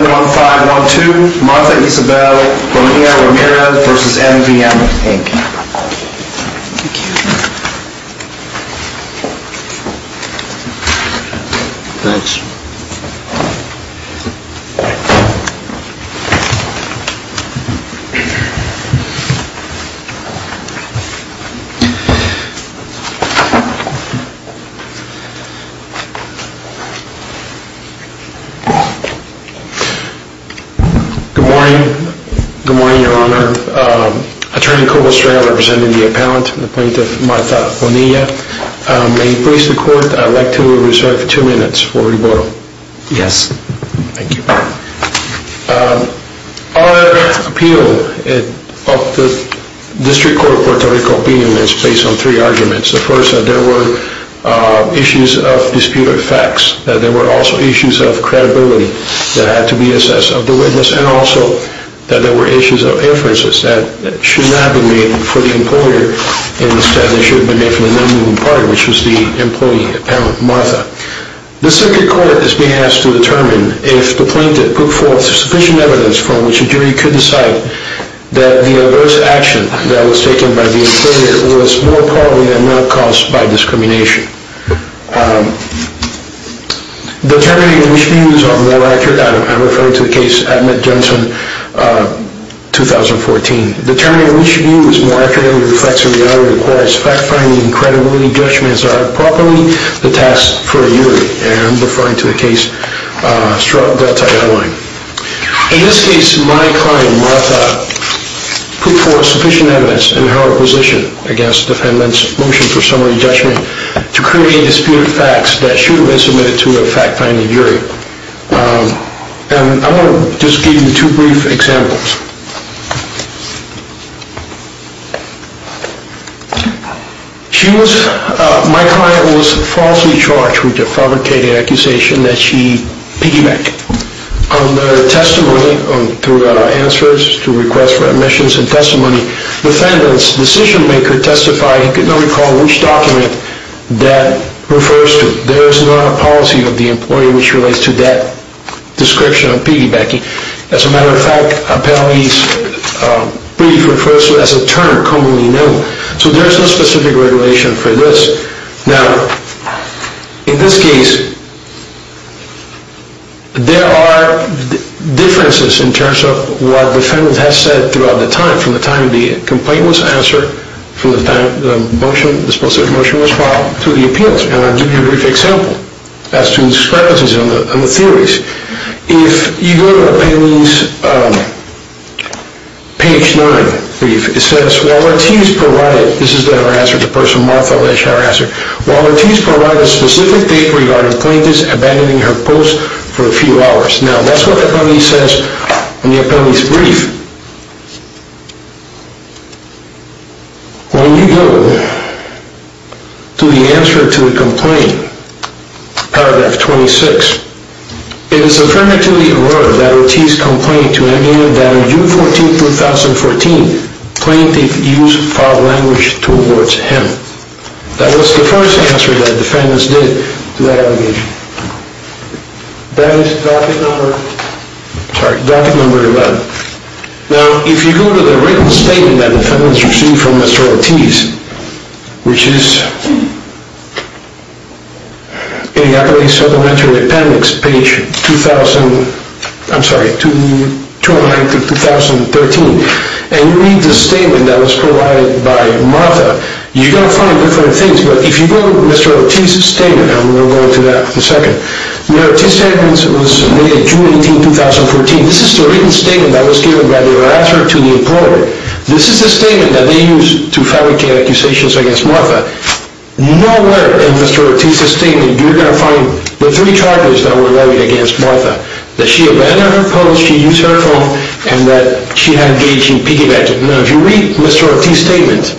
Thank you. Thanks. Good morning. Good morning, your honor. Attorney Colbill Strale, representing the appellant and the plaintiff Martha Bonilla, may you please stand to be referred to the court. Yes. Thank you. Our appeal of the district court report to recall opinions is based on three arguments. The first, that there were issues of disputed facts. That there were also issues of credibility that had to be assessed of the witness. And also that there were issues of inferences that should not be made for the employer. Instead, they should have been made for the non-moving party, which was the employee, apparently, Martha. The circuit court is being asked to determine if the plaintiff put forth sufficient evidence from which a jury could decide that the adverse action that was taken by the employer was more probably than not caused by discrimination. Determining which views are more accurate, I refer to the case Admet-Jensen, 2014. Determining which view is more accurate and reflects a reality requires fact-finding and credibility judgments are properly the task for a jury. And I'm referring to the case Straub-Delta-Eyewine. In this case, my client, Martha, put forth sufficient evidence in her opposition against the defendant's motion for summary judgment to create disputed facts that should have been submitted to a fact-finding jury. And I want to just give you two brief examples. My client was falsely charged with the fabricated accusation that she piggybacked. On the testimony, through answers to requests for admissions and testimony, the defendant's decision-maker testified he could not recall which document that refers to. There is not a policy of the employee which relates to that description of piggybacking. As a matter of fact, a payee's brief refers to it as a term commonly known. So there is no specific regulation for this. Now, in this case, there are differences in terms of what the defendant has said throughout the time. From the time the complaint was answered, from the time the motion, the supposed motion was filed, to the appeals. And I'll give you a brief example as to the discrepancies in the theories. If you go to a payee's page 9 brief, it says, while Ortiz provided, this is the harasser, the person Martha Lesch, the harasser, while Ortiz provided a specific date regarding plaintiffs abandoning her post for a few hours. Now, that's what the payee says in the payee's brief. When you go to the answer to the complaint, paragraph 26, it is affirmative to the order that Ortiz complained to an employee that on June 14, 2014, plaintiff used foul language towards him. That was the first answer that the defendants did to that allegation. That is docket number, sorry, docket number 11. Now, if you go to the written statement that the defendants received from Mr. Ortiz, which is in the Appellee Supplementary Appendix, page 2000, I'm sorry, 209 to 2013, and you read the statement that was provided by Martha, you're going to find different things. If you go to Mr. Ortiz's statement, I'm going to go into that in a second. Mr. Ortiz's statement was submitted June 18, 2014. This is the written statement that was given by the harasser to the employee. This is the statement that they used to fabricate accusations against Martha. Nowhere in Mr. Ortiz's statement, you're going to find the three charges that were levied against Martha, that she abandoned her post, she used her phone, and that she had a gauge in piggyback. Now, if you read Mr. Ortiz's statement,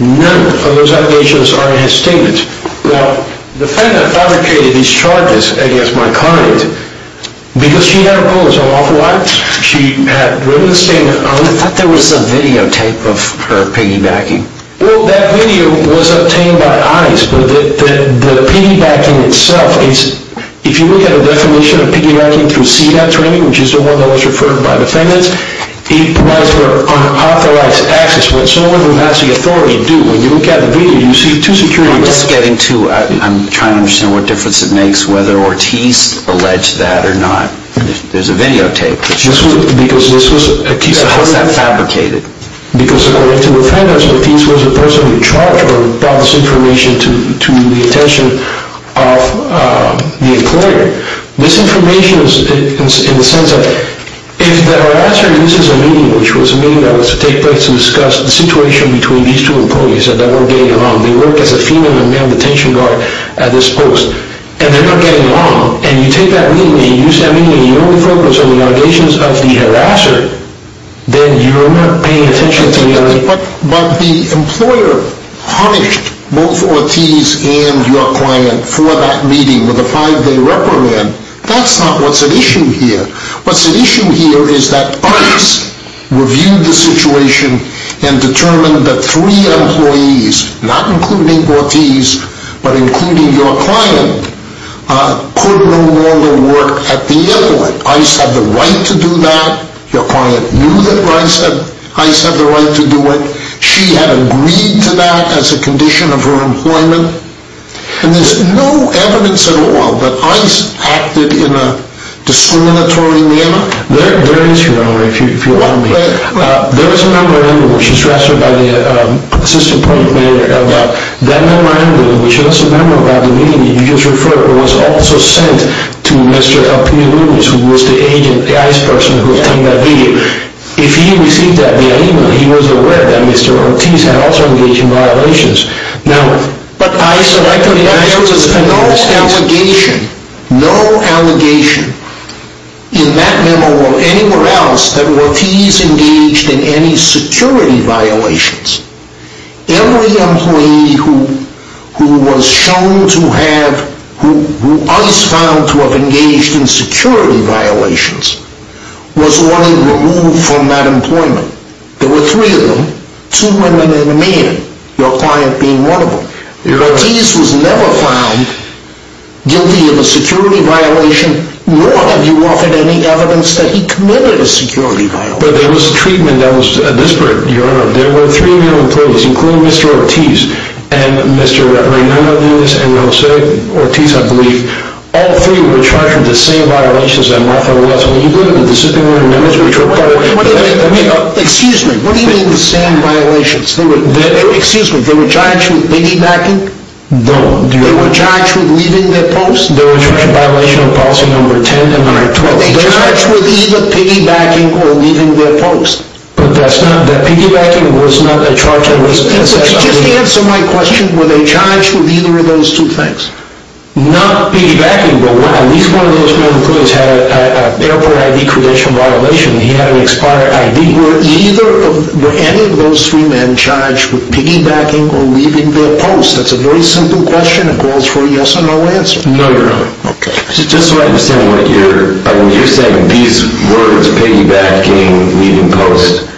none of those allegations are in his statement. Now, the defendant fabricated these charges against my client because she had her post on off-white, she had written a statement on it. I thought there was a videotape of her piggybacking. Well, that video was obtained by ICE, but the piggybacking itself is, if you look at the definition of piggybacking through CEDAP training, which is the one that was referred by defendants, it provides for unauthorized access. What someone who has the authority do, when you look at the video, you see two securities. I'm just getting to, I'm trying to understand what difference it makes whether Ortiz alleged that or not. There's a videotape. Because this was a piece of... How is that fabricated? Because according to defendants, Ortiz was the person in charge who brought this information to the attention of the employer. This information is in the sense that if the harasser uses a meeting, which was a meeting that was to take place to discuss the situation between these two employees, that they weren't getting along, they work as a female and male detention guard at this post, and they're not getting along, and you take that meeting and you use that meeting and you don't focus on the allegations of the harasser, then you're not paying attention to the allegations... But the employer punished both Ortiz and your client for that meeting with a five-day reprimand That's not what's at issue here. What's at issue here is that ICE reviewed the situation and determined that three employees, not including Ortiz, but including your client, could no longer work at the airport. ICE had the right to do that. Your client knew that ICE had the right to do it. She had agreed to that as a condition of her employment. And there's no evidence at all that ICE acted in a discriminatory manner? There is, Your Honor, if you'll allow me. There is a number in there, which is drafted by the assistant point manager. That number in there, which is a number about the meeting you just referred to, was also sent to Mr. Elpidio Rubio, who was the ICE person who obtained that video. If he received that via email, he was aware that Mr. Ortiz had also engaged in violations. No. But ICE elected him. No allegation, no allegation in that memo or anywhere else that Ortiz engaged in any security violations. Every employee who ICE found to have engaged in security violations was ordered removed from that employment. There were three of them. Two women and a man. Your client being one of them. Ortiz was never found guilty of a security violation, nor have you offered any evidence that he committed a security violation. But there was a treatment that was disparate, Your Honor. There were three of your employees, including Mr. Ortiz, and Mr. Reverend Hernandez, and Jose Ortiz, I believe. All three were charged with the same violations that Martha was. When you look at the disciplinary numbers, which are part of the... Excuse me. What do you mean the same violations? Excuse me. They were charged with piggybacking? No. They were charged with leaving their post? They were charged with violation of policy number 10 and 112. Were they charged with either piggybacking or leaving their post? But that's not... That piggybacking was not a charge that was... Just answer my question. Were they charged with either of those two things? Not piggybacking, but at least one of those employees had an airport ID credential violation. He had an expired ID. Were any of those three men charged with piggybacking or leaving their post? That's a very simple question. It calls for a yes or no answer. No, Your Honor. Okay. Just so I understand what you're... You're saying these words, piggybacking, leaving post,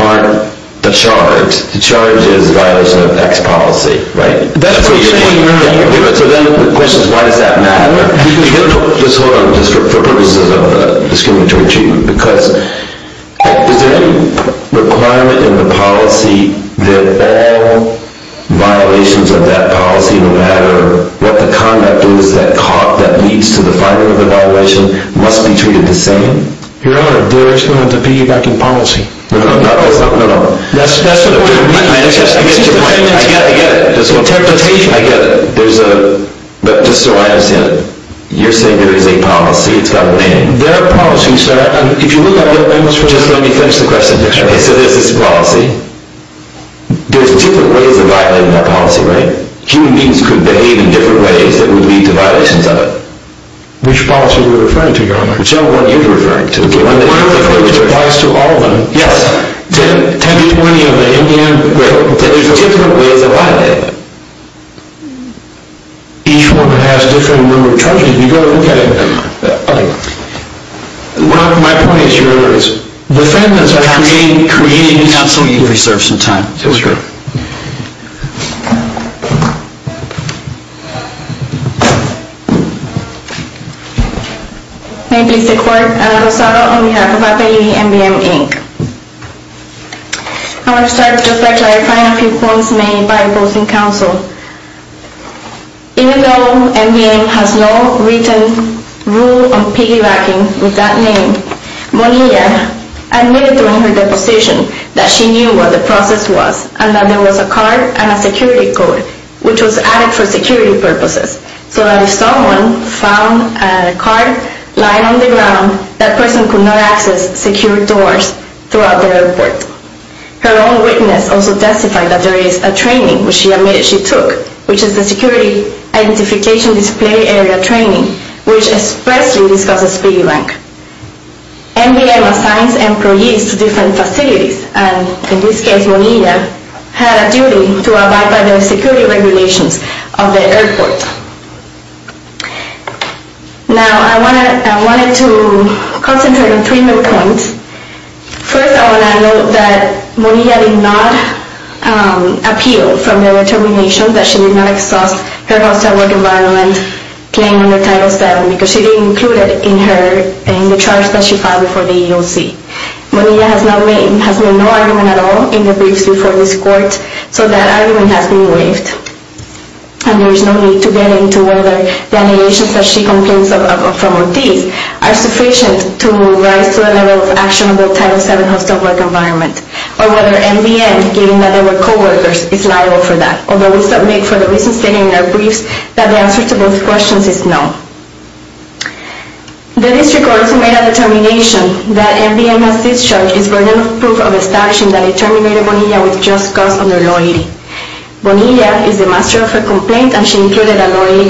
aren't the charge. The charge is violation of X policy, right? That's what you're saying, Your Honor. So then the question is, why does that matter? Just hold on. For purposes of discriminatory treatment. Because is there any requirement in the policy that all violations of that policy, no matter what the conduct is that leads to the finding of the violation, must be treated the same? Your Honor, there is no one to piggybacking policy. No, no, no. That's what I mean. I get it. I get it. There's a... But just so I understand, you're saying there is a policy. It's got a name. There are policies, sir. If you look at the... Just let me finish the question. Okay. So there's this policy. There's different ways of violating that policy, right? Human beings could behave in different ways that would lead to violations of it. Which policy are you referring to, Your Honor? Whichever one you're referring to. Okay. One that applies to all of them. Yes. 10 to 20 of them. Great. There's different ways of violating it. Each one has a different number of charges. You've got to look at it, Your Honor. Okay. One of my points, Your Honor, is defendants are creating... Counsel, you've reserved some time. Yes, sir. May I please take the floor? Rosado on behalf of APEI, MBM, Inc. I want to start just by clarifying a few points made by opposing counsel. Even though MBM has no written rule on piggybacking with that name, Monia admitted during her deposition that she knew what the process was and that there was a card and a security code which was added for security purposes so that if someone found a card lying on the ground, that person could not access secure doors throughout the airport. Her own witness also testified that there is a training which she admitted she took, which is the security identification display area training, which expressly discusses piggyback. MBM assigns employees to different facilities, and in this case, Monia had a duty to abide by the security regulations of the airport. Now, I wanted to concentrate on three main points. First, I want to note that Monia did not appeal from the determination that she did not exhaust her hostile work environment claim under Title VII because she didn't include it in the charge that she filed before the EEOC. Monia has made no argument at all in the briefs before this court, so that argument has been waived, and there is no need to get into whether the allegations that she contains from Ortiz are sufficient to rise to a level of action under the Title VII hostile work environment or whether MBM, given that they were co-workers, is liable for that, although we submit for the reasons stated in our briefs that the answer to both questions is no. The district court has made a determination that MBM's discharge is burden of proof of extraction that it terminated Monia with just cause under loyalty. Monia is the master of her complaint, and she included a loyalty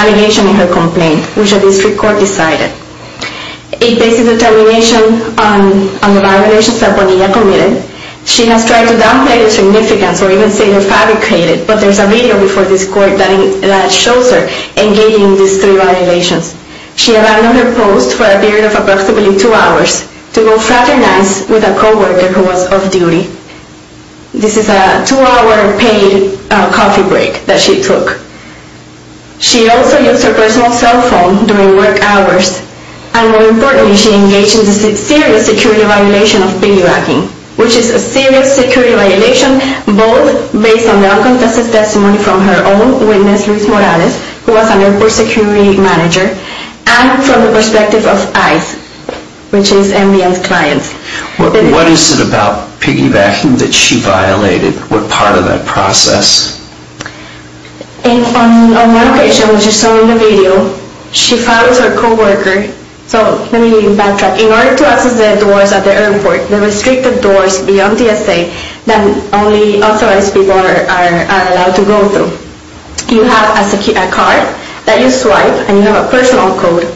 allegation in her complaint, which the district court decided. It bases the determination on the violations that Monia committed. She has tried to downplay the significance or even say they're fabricated, but there's a video before this court that shows her engaging in these three violations. She abandoned her post for a period of approximately two hours to go fraternize with a co-worker who was off-duty. This is a two-hour paid coffee break that she took. She also used her personal cell phone during work hours, and more importantly, she engaged in the serious security violation of piggybacking, which is a serious security violation both based on the unconfessed testimony from her own witness, Luis Morales, who was an airport security manager, and from the perspective of ICE, which is MVM's clients. What is it about piggybacking that she violated? What part of that process? On one occasion, which you saw in the video, she follows her co-worker. So let me backtrack. In order to access the doors at the airport, the restricted doors beyond DSA that only authorized people are allowed to go through, you have a card that you swipe, and you have a personal code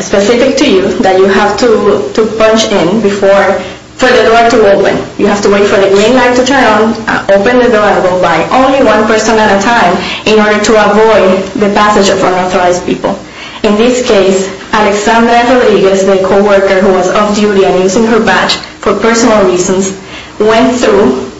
specific to you that you have to punch in for the door to open. You have to wait for the green light to turn on, open the door, and go by only one person at a time in order to avoid the passage of unauthorized people. In this case, Alexandra Rodriguez, the co-worker who was off-duty and using her badge for personal reasons, went through,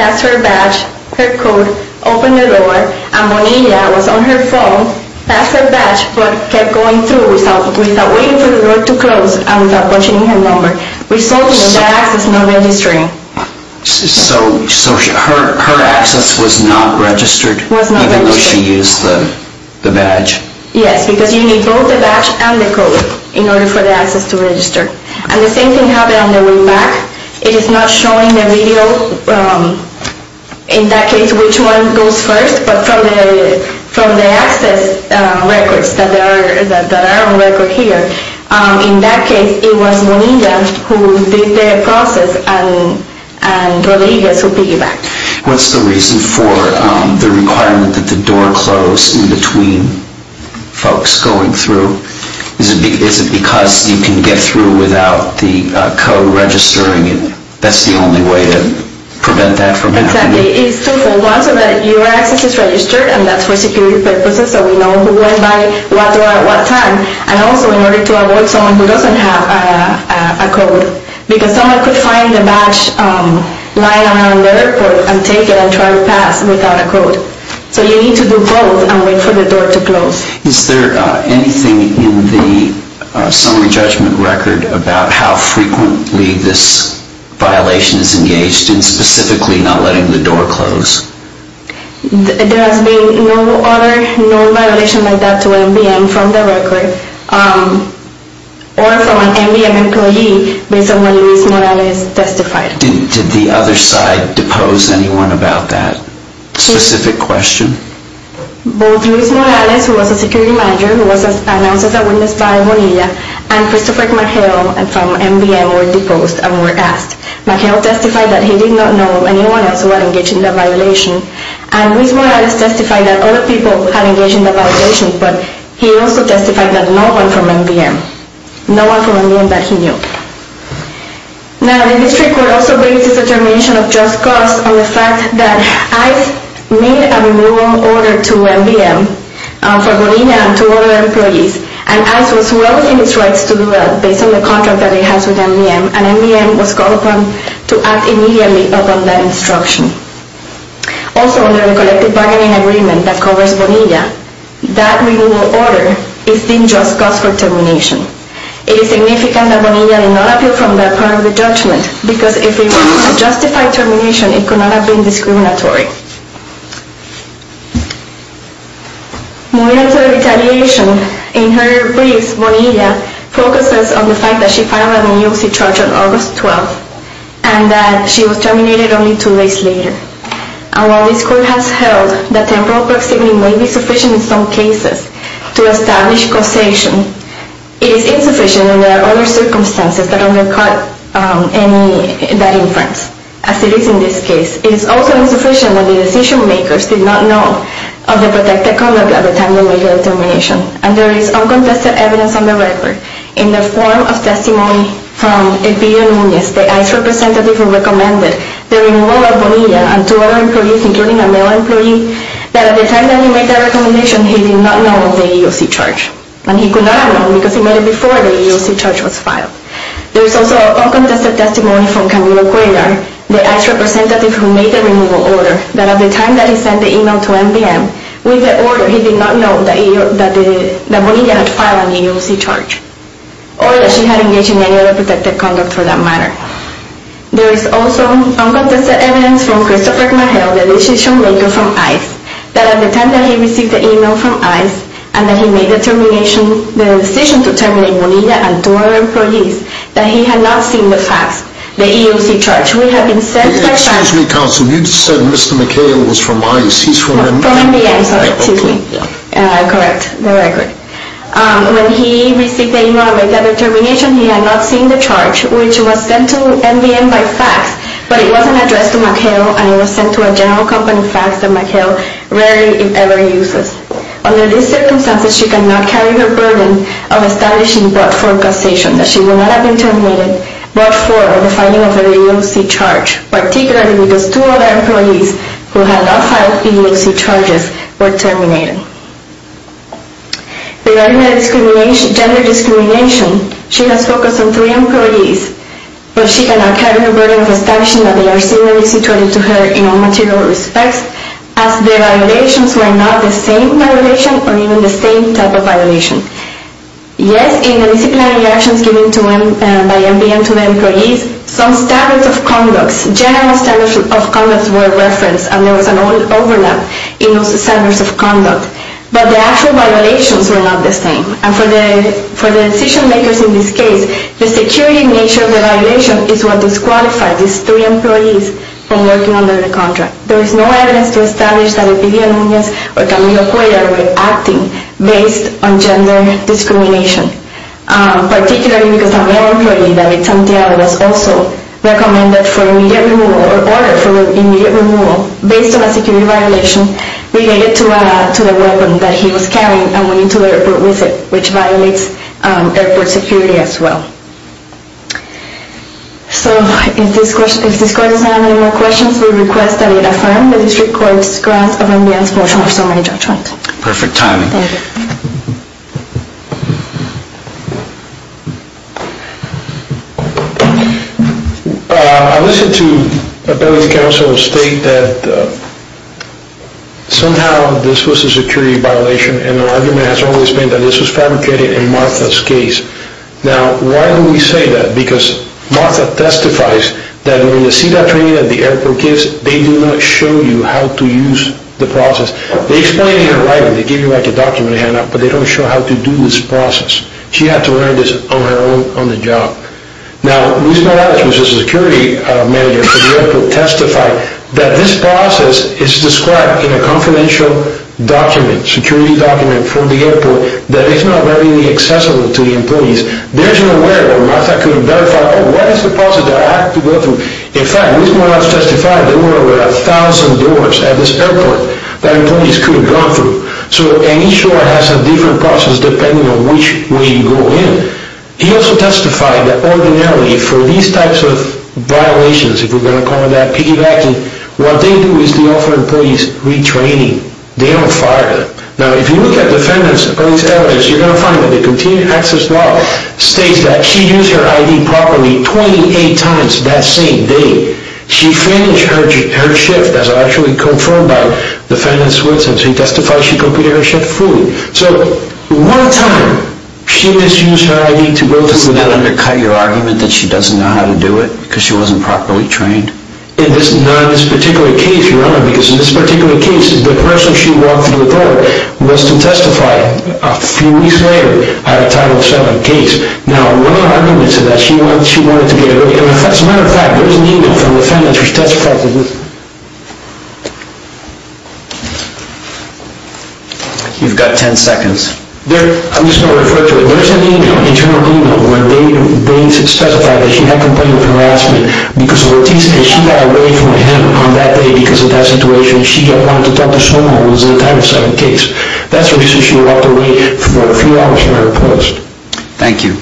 passed her badge, her code, opened the door, and Bonilla was on her phone, passed her badge, but kept going through without waiting for the door to close and without punching in her number, resulting in the access not registering. So her access was not registered even though she used the badge? Yes, because you need both the badge and the code in order for the access to register. And the same thing happened on the way back. It is not showing the video, in that case, which one goes first, but from the access records that are on record here, in that case it was Bonilla who did the process and Rodriguez who piggybacked. What's the reason for the requirement that the door close in between folks going through? Is it because you can get through without the code registering it? That's the only way to prevent that from happening? Exactly. It's two-fold. One, so that your access is registered, and that's for security purposes so we know who went by, what door at what time, and also in order to avoid someone who doesn't have a code. Because someone could find a badge lying around the airport and take it and try to pass without a code. So you need to do both and wait for the door to close. Is there anything in the summary judgment record about how frequently this violation is engaged, and specifically not letting the door close? There has been no other known violation like that to MBM from the record or from an MBM employee based on what Luis Morales testified. Did the other side depose anyone about that specific question? Both Luis Morales, who was a security manager, who was announced as a witness by Bonilla, and Christopher McHale from MBM were deposed and were asked. McHale testified that he did not know anyone else who had engaged in the violation, and Luis Morales testified that other people had engaged in the violation, but he also testified that no one from MBM. No one from MBM that he knew. Now, the district court also bases the termination of just cause on the fact that ICE made a renewal order to MBM for Bonilla and to other employees, and ICE was willing in its rights to do that based on the contract that it has with MBM, and MBM was called upon to act immediately upon that instruction. Also, under the collective bargaining agreement that covers Bonilla, that renewal order is deemed just cause for termination. It is significant that Bonilla did not appeal from that part of the judgment because if it were to justify termination, it could not have been discriminatory. Moving on to the retaliation, in her briefs, Bonilla focuses on the fact that she filed a new U.C. charge on August 12th and that she was terminated only two days later. And while this court has held that temporal proximity may be sufficient in some cases to establish causation, it is insufficient when there are other circumstances that undercut that inference, as it is in this case. It is also insufficient when the decision-makers did not know of the protected conduct at the time of her termination. And there is uncontested evidence on the record in the form of testimony from Elvira Nunez, the ICE representative who recommended the renewal of Bonilla and to other employees, including a male employee, that at the time that he made that recommendation, he did not know of the U.C. charge and he could not have known because he made it before the U.C. charge was filed. There is also uncontested testimony from Camilo Cuellar, the ICE representative who made the removal order, that at the time that he sent the email to NPM, with the order he did not know that Bonilla had filed an U.C. charge or that she had engaged in any other protected conduct for that matter. There is also uncontested evidence from Christopher McHale, the decision-maker from ICE, that at the time that he received the email from ICE and that he made the determination, the decision to terminate Bonilla and to other employees, that he had not seen the fax, the U.C. charge. We have been sent by fax... Excuse me, counsel, you said Mr. McHale was from ICE. He's from NPM. From NPM, sorry, excuse me. Correct, very good. When he received the email and made that determination, he had not seen the charge, which was sent to NPM by fax, but it wasn't addressed to McHale and it was sent to a general company fax that McHale rarely, if ever, uses. Under these circumstances, she cannot carry the burden of establishing what for causation, that she would not have been terminated, but for the filing of the U.C. charge, particularly because two other employees who had not filed U.C. charges were terminated. Regarding the discrimination, gender discrimination, she has focused on three employees, but she cannot carry the burden of establishing that they are similarly situated to her in all material respects, as the violations were not the same violation or even the same type of violation. Yes, in the disciplinary actions given by NPM to the employees, some standards of conduct, general standards of conduct were referenced and there was an overlap in those standards of conduct, but the actual violations were not the same. And for the decision makers in this case, the security nature of the violation is what disqualified these three employees from working under the contract. There is no evidence to establish that Eupedia Nunez or Camilo Cuella were acting based on gender discrimination, particularly because another employee, David Santiago, was also recommended for immediate removal or ordered for immediate removal based on a security violation related to the weapon that he was carrying and went into the airport with it, which violates airport security as well. So, if this court does not have any more questions, we request that it affirm the district court's grant of ambience motion for summary judgment. Perfect timing. Thank you. I listened to the appellate counsel state that somehow this was a security violation and the argument has always been that this was fabricated in Martha's case. Now, why do we say that? Because Martha testifies that when you see that training at the airport in the case, they do not show you how to use the process. They explain it in writing. They give you like a document to hand out, but they don't show how to do this process. She had to learn this on her own on the job. Now, Luz Morales, who is a security manager for the airport, testified that this process is described in a confidential document, security document from the airport, that is not readily accessible to the employees. There is no way that Martha could have verified what is the process that I have to go through. In fact, Luz Morales testified there were over a thousand doors at this airport that employees could have gone through, and each door has a different process depending on which way you go in. He also testified that ordinarily for these types of violations, if we're going to call it that, piggybacking, what they do is they offer employees retraining. They don't fire them. Now, if you look at defendant's police evidence, you're going to find that the continued access law states that she used her I.D. properly 28 times that same day. She finished her shift as actually confirmed by defendant's witness and she testified she completed her shift fully. So one time she misused her I.D. to go to school. Does that undercut your argument that she doesn't know how to do it because she wasn't properly trained? In this particular case, Your Honor, because in this particular case the person she walked through the door was to testify a few weeks later at a Title VII case. Now, one of the arguments is that she wanted to get away. As a matter of fact, there is an email from the defendant who testified to this. You've got 10 seconds. I'm just going to refer to it. There is an email, an internal email, where they specify that she had complained of harassment because of a thesis and she got away from him on that day because of that situation. She wanted to talk to someone who was in a Title VII case. That's the reason she walked away for a few hours from her post. Thank you.